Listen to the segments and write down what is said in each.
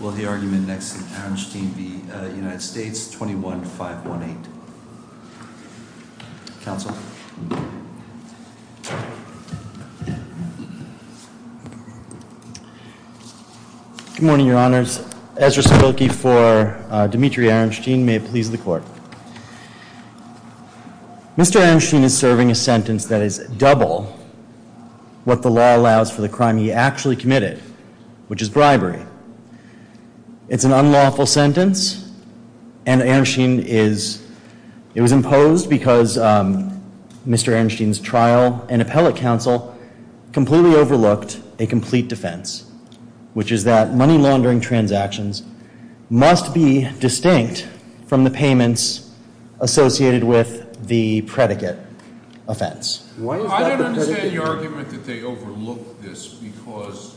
Will the argument next to Aronshtein v. United States, 21-518. Counsel. Good morning, your honors. Ezra Spilkey for Dmitry Aronshtein. May it please the court. Mr. Aronshtein is serving a sentence that is double what the law allows for the crime he actually committed, which is bribery. It's an unlawful sentence and Aronshtein is, it was imposed because Mr. Aronshtein's trial and appellate counsel completely overlooked a complete defense, which is that money laundering transactions must be distinct from the payments associated with the predicate offense. I don't understand your argument that they overlooked this because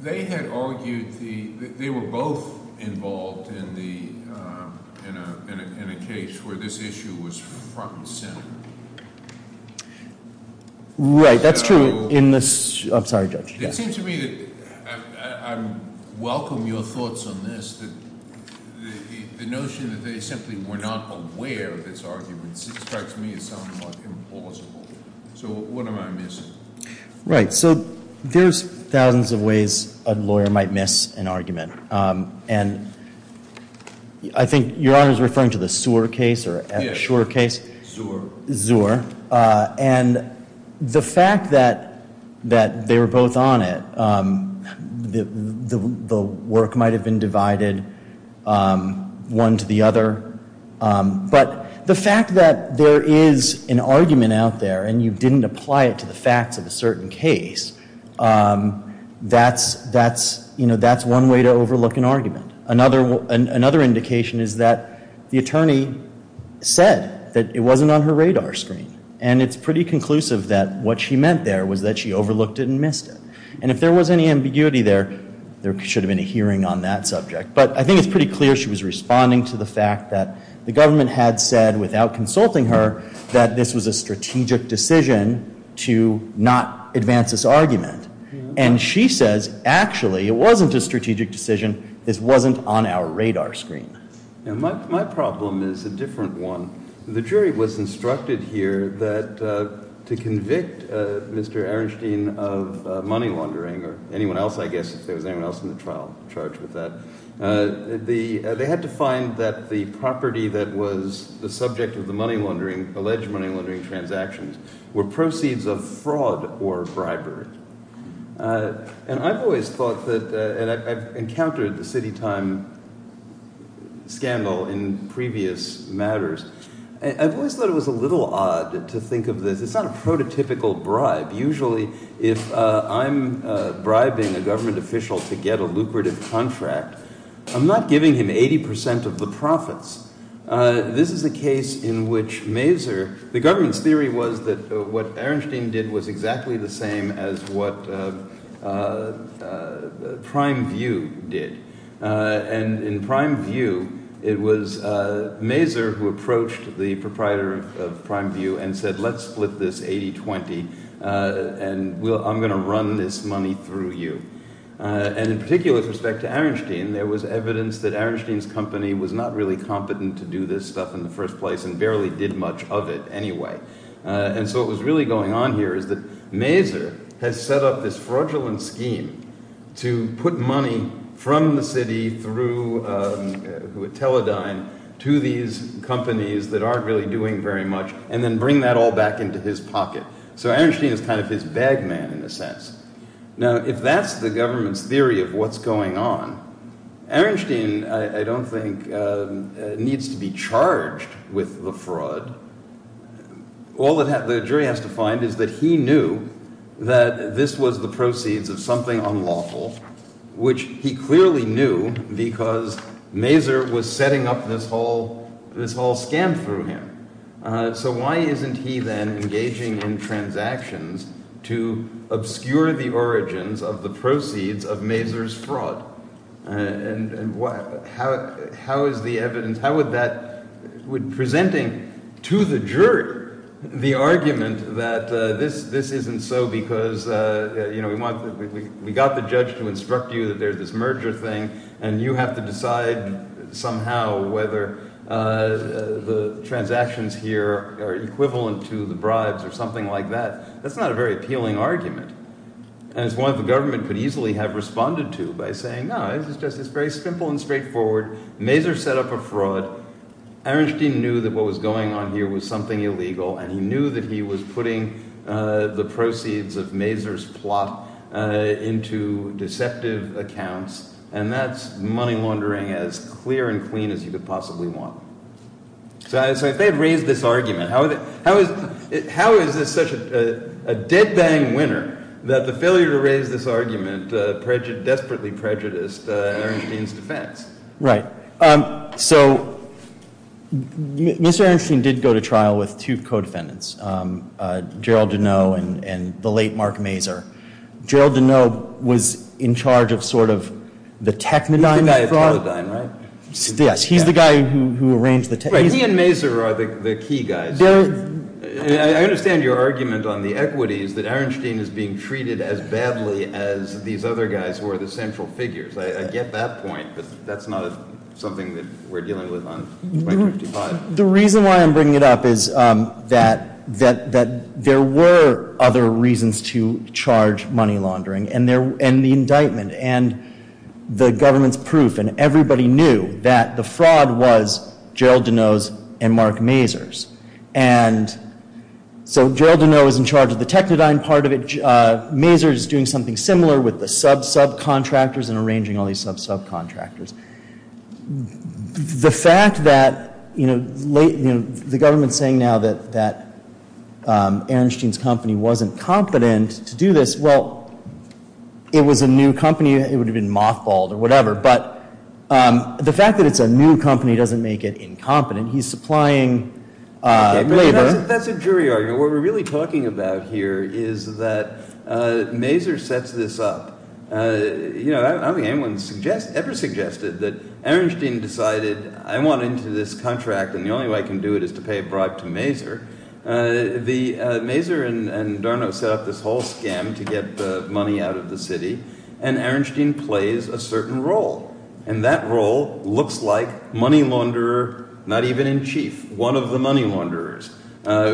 they had argued the, they were both involved in the, in a case where this issue was front and center. Right, that's true in this, I'm sorry judge. It seems to me that I welcome your thoughts on this, that the notion that they simply were not aware of this argument strikes me as somewhat implausible. So what am I missing? Right, so there's thousands of ways a lawyer might miss an argument and I think your honor is referring to the Seur case or at Seur case. Seur. Seur, and the fact that they were both on it, the work might have been divided one to the other, but the fact that there is an argument out there and you didn't apply it to the facts of a certain case, that's, that's, you know, that's one way to overlook an argument. Another, another indication is that the attorney said that it wasn't on her radar screen and it's pretty conclusive that what she meant there was that she overlooked it and missed it and if there was any ambiguity there, there should have been a hearing on that subject, but I think it's pretty clear she was responding to the fact that the government had said without consulting her that this was a strategic decision to not advance this argument and she says actually it wasn't a strategic decision, this wasn't on our radar screen. My problem is a different one. The jury was instructed here that to convict Mr. Ehrenstein of money laundering or anyone else, I guess, if there was anyone else in the trial charged with that, they had to find that the property that was the subject of the money laundering, alleged money laundering transactions, were proceeds of fraud or bribery and I've always thought that, and I've encountered the city time scandal in previous matters, I've always thought it was a little odd to think of this, it's not a prototypical bribe. Usually if I'm bribing a government official to get a lucrative contract, I'm not giving him 80 percent of the profits. This is a case in which Mazur, the government's was exactly the same as what Prime View did and in Prime View it was Mazur who approached the proprietor of Prime View and said let's split this 80-20 and I'm going to run this money through you and in particular with respect to Ehrenstein, there was evidence that Ehrenstein's company was not really competent to do this stuff in the first place and barely did much of it anyway and so what was really going on here is that Mazur has set up this fraudulent scheme to put money from the city through Teledyne to these companies that aren't really doing very much and then bring that all back into his pocket. So Ehrenstein is kind of his bag man in a sense. Now if that's the government's theory of what's going on, Ehrenstein I don't think needs to be all that the jury has to find is that he knew that this was the proceeds of something unlawful which he clearly knew because Mazur was setting up this whole scam through him. So why isn't he then engaging in transactions to obscure the origins of the proceeds of Mazur's fraud and how is the evidence, how would that, presenting to the jury the argument that this isn't so because we got the judge to instruct you that there's this merger thing and you have to decide somehow whether the transactions here are equivalent to the bribes or something like that, that's not a very appealing argument and it's one the government could easily have responded to by saying no, it's just very simple and straightforward, Mazur set up a fraud, Ehrenstein knew that what was going on here was something illegal and he knew that he was putting the proceeds of Mazur's plot into deceptive accounts and that's money laundering as clear and clean as you could possibly want. So if they had raised this argument, how is this such a winner that the failure to raise this argument desperately prejudiced Ehrenstein's defense? Right, so Mr. Ehrenstein did go to trial with two co-defendants, Gerald Deneau and the late Mark Mazur. Gerald Deneau was in charge of sort of the technodyne fraud. He's the guy who arranged the technodyne. He and Mazur are the key guys. I understand your point that Ehrenstein is being treated as badly as these other guys who are the central figures. I get that point but that's not something that we're dealing with on 255. The reason why I'm bringing it up is that there were other reasons to charge money laundering and the indictment and the government's proof and everybody knew that the fraud was Gerald Deneau's and Mark Mazur's and so Gerald Deneau is in charge of the technodyne part of it. Mazur is doing something similar with the sub-subcontractors and arranging all these sub-subcontractors. The fact that, you know, the government's saying now that Ehrenstein's company wasn't competent to do this, well, it was a new company. It would have been mothballed or whatever but the fact that it's a new company doesn't make it incompetent. He's supplying labor. That's a jury argument. What we're really talking about here is that Mazur sets this up. You know, I don't think anyone ever suggested that Ehrenstein decided I want into this contract and the only way I can do it is to pay a bribe to Mazur. Mazur and Darnot set up this whole scam to get the money out of the city and Ehrenstein plays a certain role and that role looks like not even in chief. One of the money launderers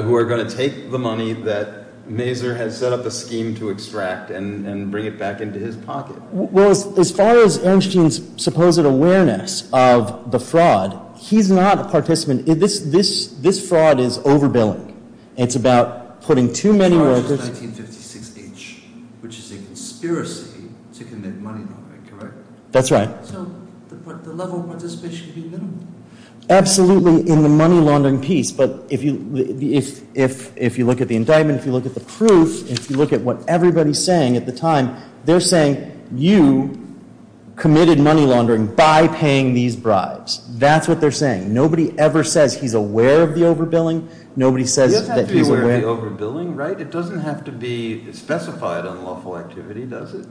who are going to take the money that Mazur has set up a scheme to extract and bring it back into his pocket. Well, as far as Ehrenstein's supposed awareness of the fraud, he's not a participant in this. This fraud is overbilling. It's about putting too many workers. 1956H, which is a conspiracy to commit money laundering, that's right. Absolutely in the money laundering piece but if you look at the indictment, if you look at the proof, if you look at what everybody's saying at the time, they're saying you committed money laundering by paying these bribes. That's what they're saying. Nobody ever says he's aware of the overbilling. Nobody says that he's aware of the overbilling, right? It doesn't have to be specified unlawful activity, does it?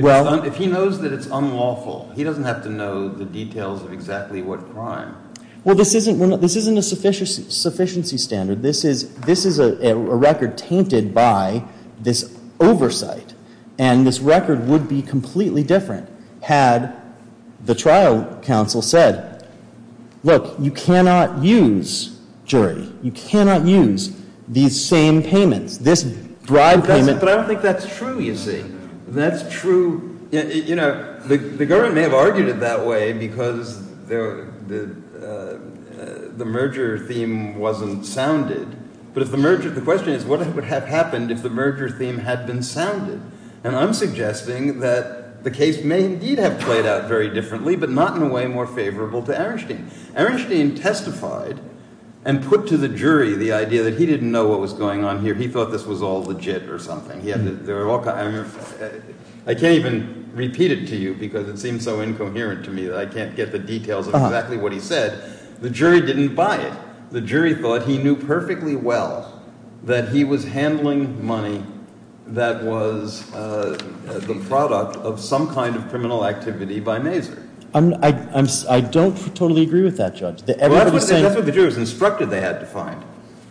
If he knows that it's unlawful, he doesn't have to know the details of exactly what crime. Well, this isn't a sufficiency standard. This is a record tainted by this oversight and this record would be completely different had the trial counsel said, look, you cannot use, jury, you cannot use these same payments, this bribe payment. But I don't think that's true, you see. That's true. You know, the government may have argued it that way because the merger theme wasn't sounded. But if the merger, the question is, what would have happened if the merger theme had been sounded? And I'm suggesting that the case may indeed have played out very differently, but not in a way more favorable to Arenstein. Arenstein testified and put to the jury the idea that he didn't know what was going on here. He thought this was all legit or something. I can't even repeat it to you because it seems so incoherent to me that I can't get the details of exactly what he said. The jury didn't buy it. The jury thought he knew perfectly well that he was handling money that was the product of some kind of criminal activity by Mazur. I don't totally agree with that, Judge. That's what the jury was instructed they had to find.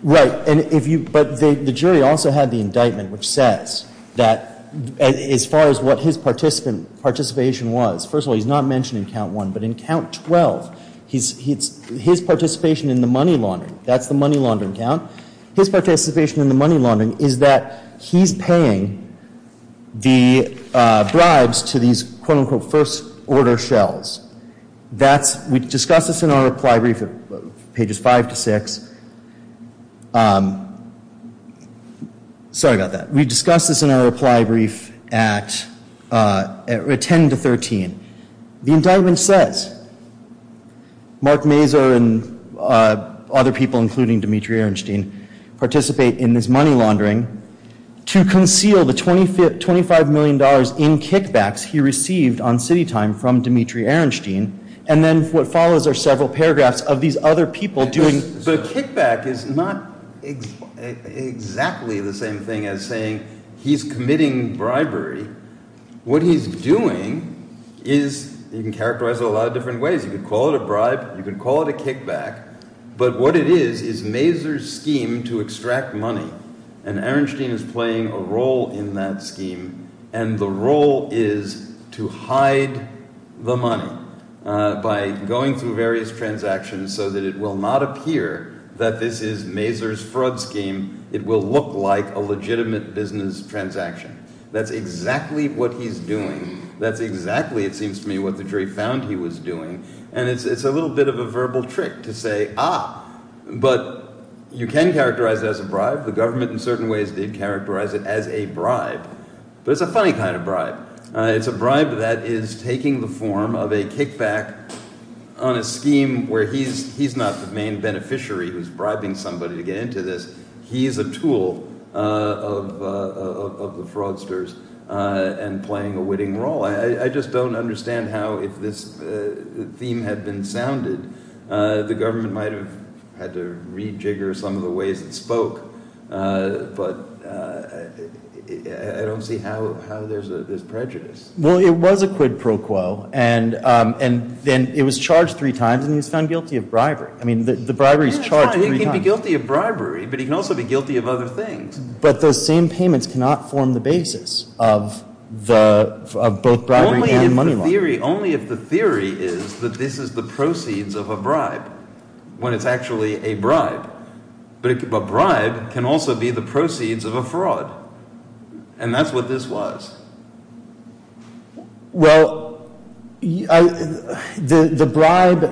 Right. And if you, but the jury also had the indictment which says that as far as what his participant participation was, first of all, he's not mentioned in count one, but in count 12, his participation in the money laundering, that's the money laundering count, his participation in the money laundering is that he's paying the bribes to these quote-unquote first order shells. That's, we discussed this in our reply brief at pages five to six. Sorry about that. We discussed this in our reply brief at 10 to 13. The indictment says Mark Mazur and other people, including Dimitri Ehrenstein, participate in this money laundering to conceal the 25 million dollars in kickbacks he received on city time from Dimitri Ehrenstein. And then what follows are several paragraphs of these other people doing. The kickback is not exactly the same thing as saying he's committing bribery. What he's doing is, you can characterize it a lot of different ways. You could call it a bribe, you could call it a kickback, but what it is is Mazur's scheme to extract money and Ehrenstein is playing a role in that scheme and the role is to hide the money by going through various transactions so that it will not appear that this is Mazur's fraud scheme. It will look like a legitimate business transaction. That's exactly what he's doing. That's exactly, it seems to me, what the jury found he was doing. And it's a little bit of a verbal trick to say, ah, but you can characterize it as a bribe. The funny kind of bribe. It's a bribe that is taking the form of a kickback on a scheme where he's not the main beneficiary who's bribing somebody to get into this. He's a tool of the fraudsters and playing a witting role. I just don't understand how, if this theme had been sounded, the government might have had to rejigger some of the ways it spoke, but I don't see how there's prejudice. Well, it was a quid pro quo and it was charged three times and he was found guilty of bribery. I mean, the bribery is charged three times. He can be guilty of bribery, but he can also be guilty of other things. But those same payments cannot form the basis of both bribery and money laundering. Only if the theory is that this is the proceeds of a bribe, when it's actually a bribe. But a bribe can also be the proceeds of a fraud. And that's what this was. Well, the bribe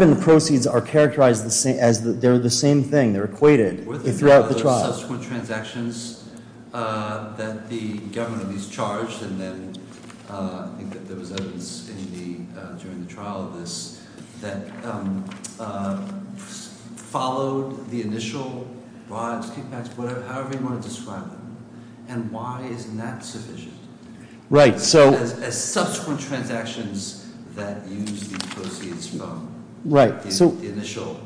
and the proceeds are characterized as they're the same thing. Were there subsequent transactions that the government at least charged and then I think that there was evidence in the during the trial of this that followed the initial bribes, kickbacks, whatever, however you want to describe them. And why isn't that sufficient? As subsequent transactions that use the proceeds from the initial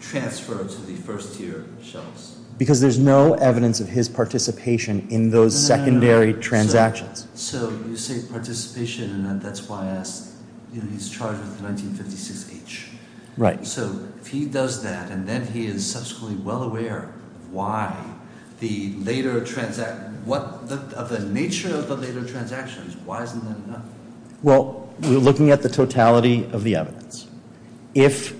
transfer to the first year shelves. Because there's no evidence of his participation in those secondary transactions. So you say participation and that's why I asked, he's charged with 1956H. Right. So if he does that and then he is subsequently well aware of why the later transaction, of the nature of the later transactions, why isn't that enough? Well, we're looking at the totality of the evidence. If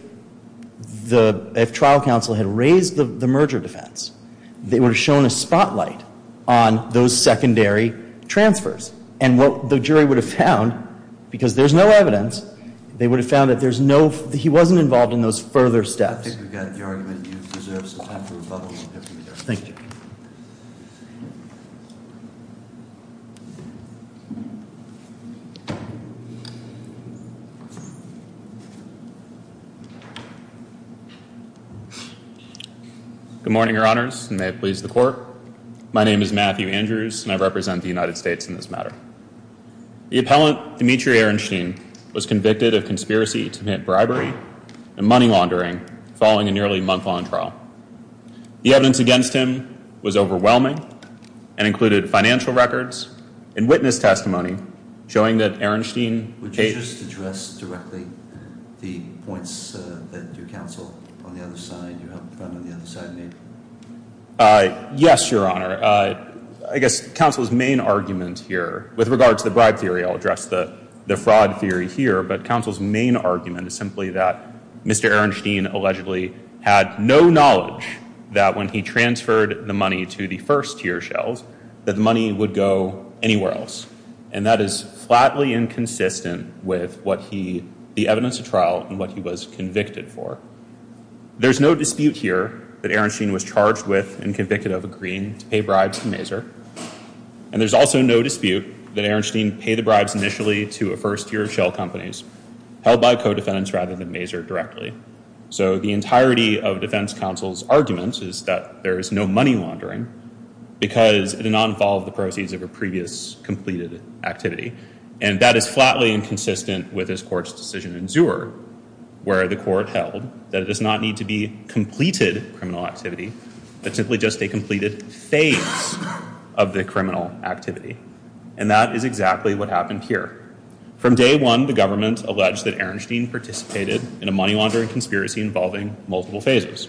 the trial counsel had raised the merger defense, they would have shown a spotlight on those secondary transfers. And what the jury would have found, because there's no evidence, they would have found that there's no, he wasn't involved in those further steps. I think we've got the argument that you deserve some time for rebuttal. Thank you. Good morning, your honors, and may it please the court. My name is Matthew Andrews and I represent the United States in this matter. The appellant, Demetri Ehrenstein, was convicted of embezzlement and money laundering following a nearly month-long trial. The evidence against him was overwhelming and included financial records and witness testimony showing that Ehrenstein... Would you just address directly the points that your counsel on the other side, you found on the other side, made? Yes, your honor. I guess counsel's main argument here, with regard to the bribe theory, I'll address the fraud theory here, but counsel's main argument is simply that Mr. Ehrenstein allegedly had no knowledge that when he transferred the money to the first-tier shells, that the money would go anywhere else. And that is flatly inconsistent with what he, the evidence of trial, and what he was convicted for. There's no dispute here that Ehrenstein was charged with and convicted of agreeing to pay bribes to Maser. And there's also no dispute that Ehrenstein paid the bribes initially to a first-tier shell companies, held by co-defendants rather than Maser directly. So the entirety of defense counsel's argument is that there is no money laundering, because it did not involve the proceeds of a previous completed activity. And that is flatly inconsistent with this court's decision in Zewer, where the court held that it does not need to be completed criminal activity, but simply just a completed phase of the criminal activity. And that is exactly what happened here. From day one, the government alleged that Ehrenstein participated in a money laundering conspiracy involving multiple phases.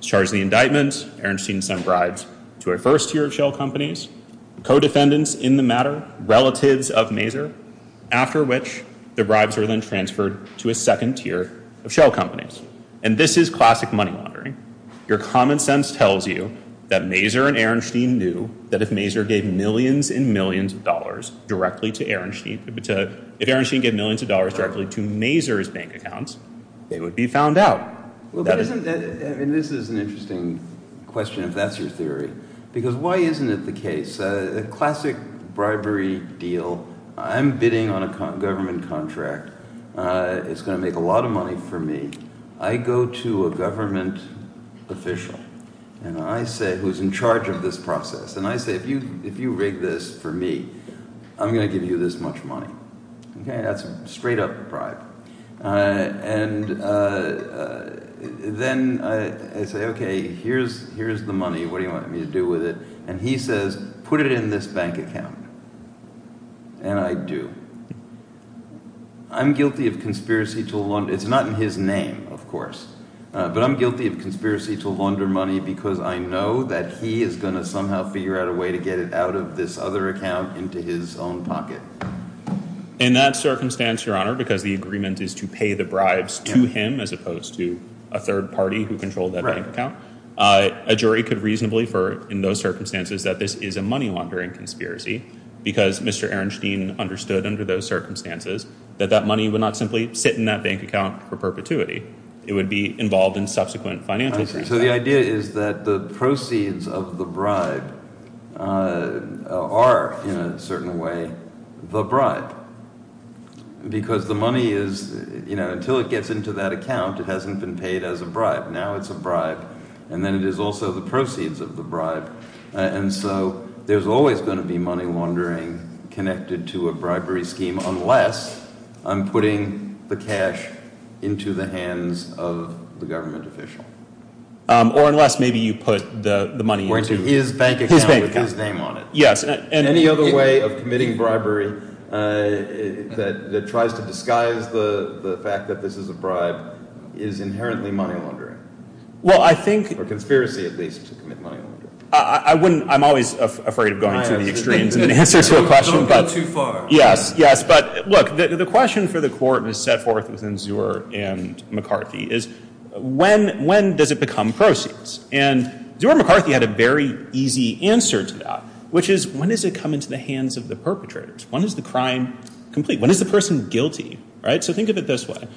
Charged the indictment, Ehrenstein sent bribes to a first-tier shell companies, co-defendants in the matter, relatives of Maser, after which the bribes are then transferred to a second-tier of shell companies. And this is classic money laundering. Your common sense tells you that Maser and Ehrenstein knew that if Maser gave millions and millions of dollars directly to Ehrenstein, if Ehrenstein gave millions of dollars directly to Maser's bank accounts, they would be found out. This is an interesting question, if that's your theory. Because why isn't it the case? A classic bribery deal. I'm bidding on a government contract. It's going to make a lot of money for me. I go to a government official, who's in charge of this process, and I say, if you rig this for me, I'm going to give you this much money. Okay, that's straight up bribe. And then I say, okay, here's the money, what do you want me to do with it? And he says, put it in this bank account. And I do. I'm guilty of conspiracy to... It's not in his name, of course. But I'm guilty of conspiracy to launder money because I know that he is going to somehow figure out a way to get it out of this other account into his own pocket. In that circumstance, your honor, because the agreement is to pay the bribes to him as opposed to a third party who controlled that bank account, a jury could reasonably, in those circumstances, that this is a money laundering conspiracy. Because Mr. Ehrenstein understood under those circumstances that that money would not simply sit in that bank account for perpetuity. It would be involved in a bribe. Or in a certain way, the bribe. Because the money is... Until it gets into that account, it hasn't been paid as a bribe. Now it's a bribe. And then it is also the proceeds of the bribe. And so there's always going to be money laundering connected to a bribery scheme unless I'm putting the cash into the hands of the government official. Or unless maybe you put the money into his bank account with his name on it. Yes. And any other way of committing bribery that tries to disguise the fact that this is a bribe is inherently money laundering. Well, I think... Or conspiracy, at least, to commit money laundering. I wouldn't... I'm always afraid of going to the extremes in answer to a question. Don't go too far. Yes. Yes. But look, the question for the court was set forth within Zuer and McCarthy is, when does it become proceeds? And Zuer and McCarthy had a very easy answer to that, which is, when does it come into the hands of the perpetrators? When is the crime complete? When is the person guilty? Right? So think of it this way.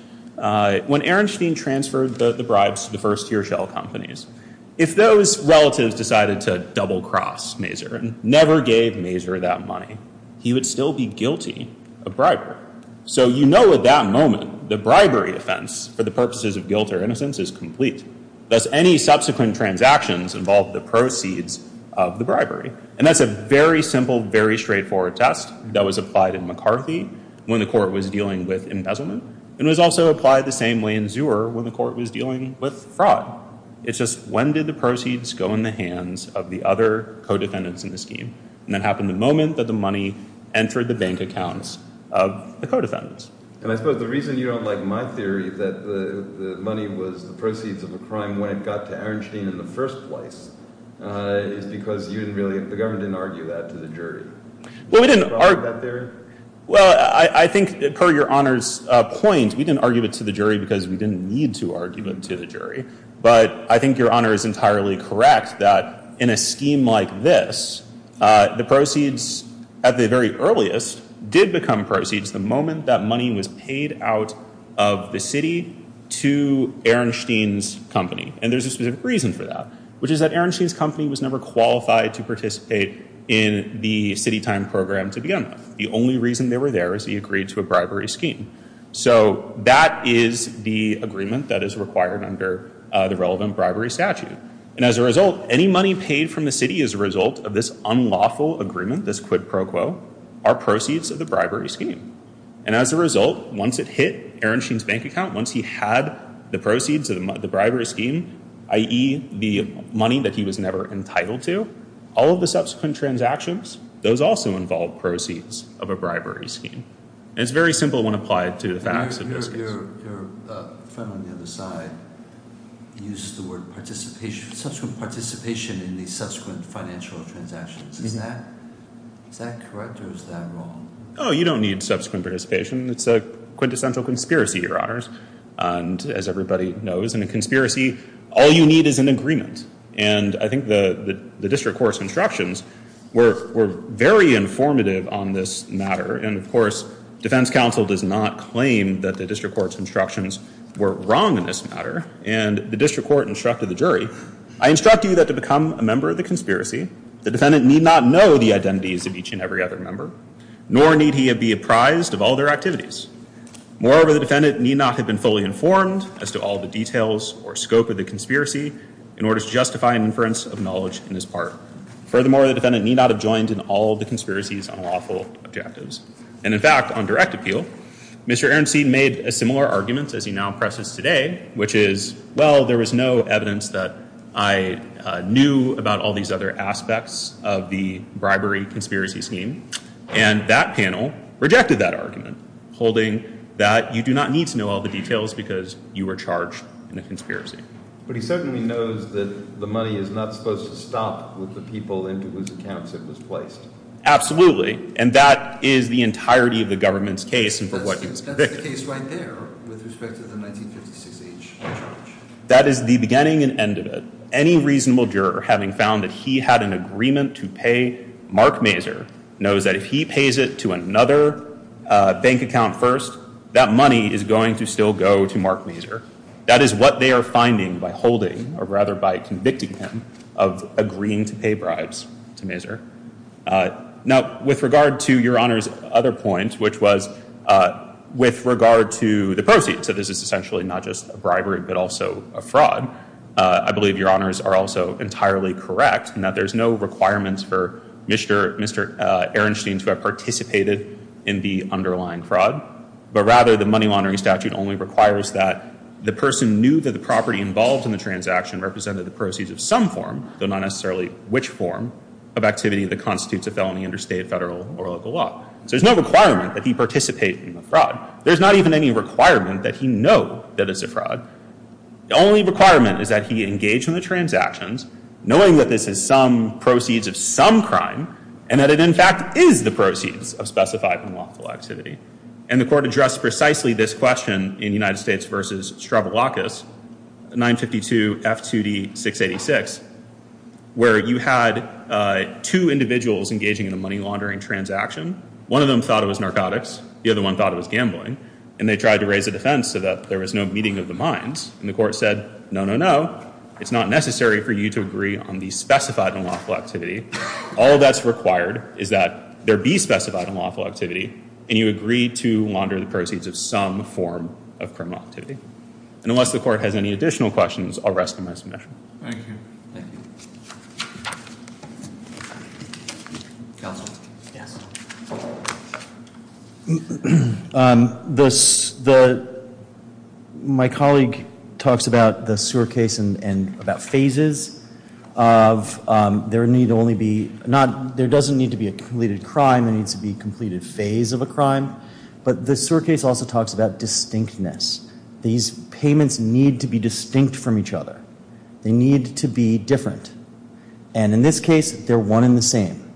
When Ehrenstein transferred the bribes to the first tier shell companies, if those relatives decided to double-cross Mazur and never gave Mazur that money, he would still be guilty of bribery. So you know at that moment, the bribery offense, for the purposes of guilt or innocence, is complete. Thus, any subsequent transactions involve the proceeds of the bribery. And that's a very simple, very straightforward test that was applied in McCarthy when the court was dealing with embezzlement. And it was also applied the same way in Zuer when the court was dealing with fraud. It's just, when did the proceeds go in the hands of the other co-defendants in the scheme? And that happened moment that the money entered the bank accounts of the co-defendants. And I suppose the reason you don't like my theory that the money was the proceeds of the crime when it got to Ehrenstein in the first place is because you didn't really, the government didn't argue that to the jury. Well, we didn't argue. Well, I think per your Honor's point, we didn't argue it to the jury because we didn't need to argue it to the jury. But I think your Honor is entirely correct that in a scheme like this, the proceeds at the very earliest did become proceeds the moment that money was paid out of the city to Ehrenstein's company. And there's a specific reason for that, which is that Ehrenstein's company was never qualified to participate in the city time program to begin with. The only reason they were there is he agreed to a bribery scheme. So that is the agreement that is required under the relevant bribery statute. And as a result, any money paid from the city as a result of this unlawful agreement, this quid pro quo, are proceeds of the bribery scheme. And as a result, once it hit Ehrenstein's bank account, once he had the proceeds of the bribery scheme, i.e. the money that he was never entitled to, all of the subsequent transactions, those also involved proceeds of a bribery scheme. It's very simple when applied to the facts of this case. Your friend on the other side used the word participation, subsequent participation in the subsequent financial transactions. Is that correct or is that wrong? Oh, you don't need subsequent participation. It's a quintessential conspiracy, Your Honors. And as everybody knows, in a conspiracy, all you need is an agreement. And I think the district court's instructions were very informative on this matter. And of course, defense counsel does not claim that the district court's instructions were wrong in this matter. And the district court instructed the jury, I instruct you that to become a member of the conspiracy, the defendant need not know the identities of each and every other member, nor need he be apprised of all their activities. Moreover, the defendant need not have been fully informed as to all the details or scope of the conspiracy in order to justify an inference of knowledge in this part. Furthermore, the defendant need not have joined in all the conspiracies on Mr. Aronson made a similar argument as he now presses today, which is, well, there was no evidence that I knew about all these other aspects of the bribery conspiracy scheme. And that panel rejected that argument, holding that you do not need to know all the details because you were charged in a conspiracy. But he certainly knows that the money is not supposed to stop with the what he was convicted of. That is the beginning and end of it. Any reasonable juror having found that he had an agreement to pay Mark Mazur knows that if he pays it to another bank account first, that money is going to still go to Mark Mazur. That is what they are finding by holding, or rather by convicting him of agreeing to pay bribes to Mazur. Now, with regard to your honor's other point, which was with regard to the proceeds. So this is essentially not just a bribery, but also a fraud. I believe your honors are also entirely correct in that there's no requirements for Mr. Aronson to have participated in the underlying fraud. But rather, the money laundering statute only requires that the person knew that the property involved in the transaction represented the proceeds of some form, though not necessarily which form, of activity that constitutes a felony under state, federal, or local law. So there's no requirement that he participate in the fraud. There's not even any requirement that he know that it's a fraud. The only requirement is that he engaged in the transactions knowing that this is some proceeds of some crime, and that it, in fact, is the proceeds of specified unlawful activity. And the court addressed precisely this question in United States v. Stravoulakis, 952 F2D 686, where you had two individuals engaging in a money laundering transaction. One of them thought it was narcotics. The other one thought it was gambling. And they tried to raise a defense so that there was no meeting of the minds. And the court said, no, no, no. It's not necessary for you to agree on the specified unlawful activity. All that's required is that there be specified unlawful activity, and you agree to launder the proceeds of some form of criminal activity. And unless the court has any additional questions, I'll rest on my submission. Thank you, thank you. Counsel? Yes. My colleague talks about the sewer case and about phases of there need only be, not, there doesn't need to be a completed crime. There needs to be a completed phase of a crime. But the sewer case also talks about distinctness. These payments need to be distinct from each other. They need to be different. And in this case, they're one and the same.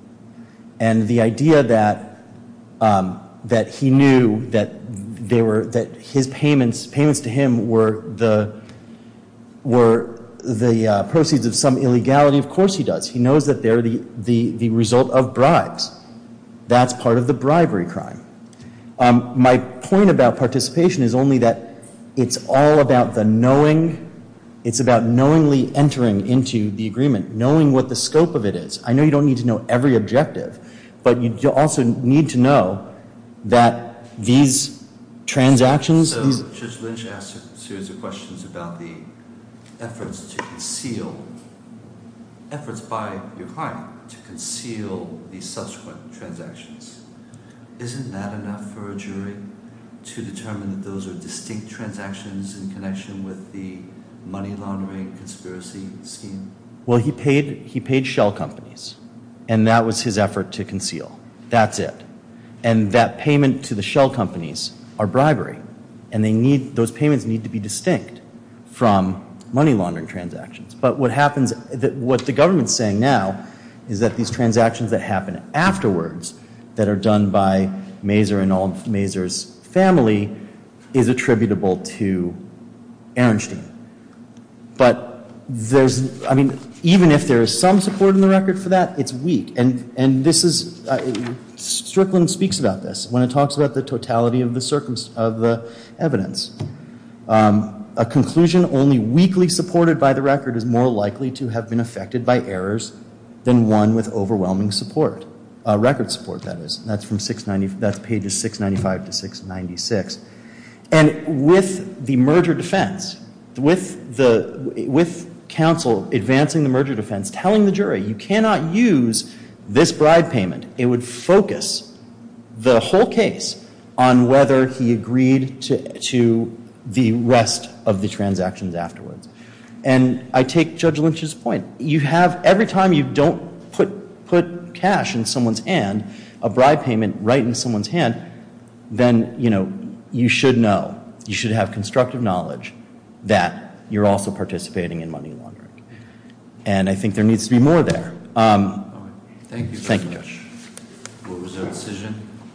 And the idea that that he knew that they were, that his payments, payments to him were the, were the proceeds of some illegality, of course he does. He knows that they're the, the, the result of bribes. That's part of the bribery crime. My point about participation is only that it's all about the knowing. It's about knowingly entering into the agreement, knowing what the scope of it is. I know you don't need to know every objective, but you also need to know that these transactions. So, Judge Lynch asked a series of questions about the efforts to conceal, efforts by your client to conceal these subsequent transactions. Isn't that enough for a jury to determine that those are distinct transactions in connection with the money laundering conspiracy scheme? Well, he paid, he paid shell companies. And that was his effort to conceal. That's it. And that payment to the shell companies are bribery. And they need, those payments need to be distinct from money laundering transactions. But what happens, what the government's saying now is that these transactions that happen afterwards that are done by Maser and all Maser's family is attributable to Ehrenstein. But there's, I mean, even if there is some support in the record for that, it's weak. And, and this is, Strickland speaks about this when it talks about the totality of the evidence. A conclusion only weakly supported by the record is more likely to have been affected by errors than one with overwhelming support, record support that is. That's from 690, that's pages 695 to 696. And with the merger defense, with the, with counsel advancing the merger defense, telling the jury you cannot use this bribe payment, it would focus the whole case on whether he agreed to, to the rest of the transactions afterwards. And I take Judge Lynch's point. You have, every time you don't put, put cash in someone's hand, a bribe payment right in someone's hand, then, you know, you should know, you should have constructive knowledge that you're also participating in money laundering. And I think there needs to be more there. Thank you. Thank you, Judge.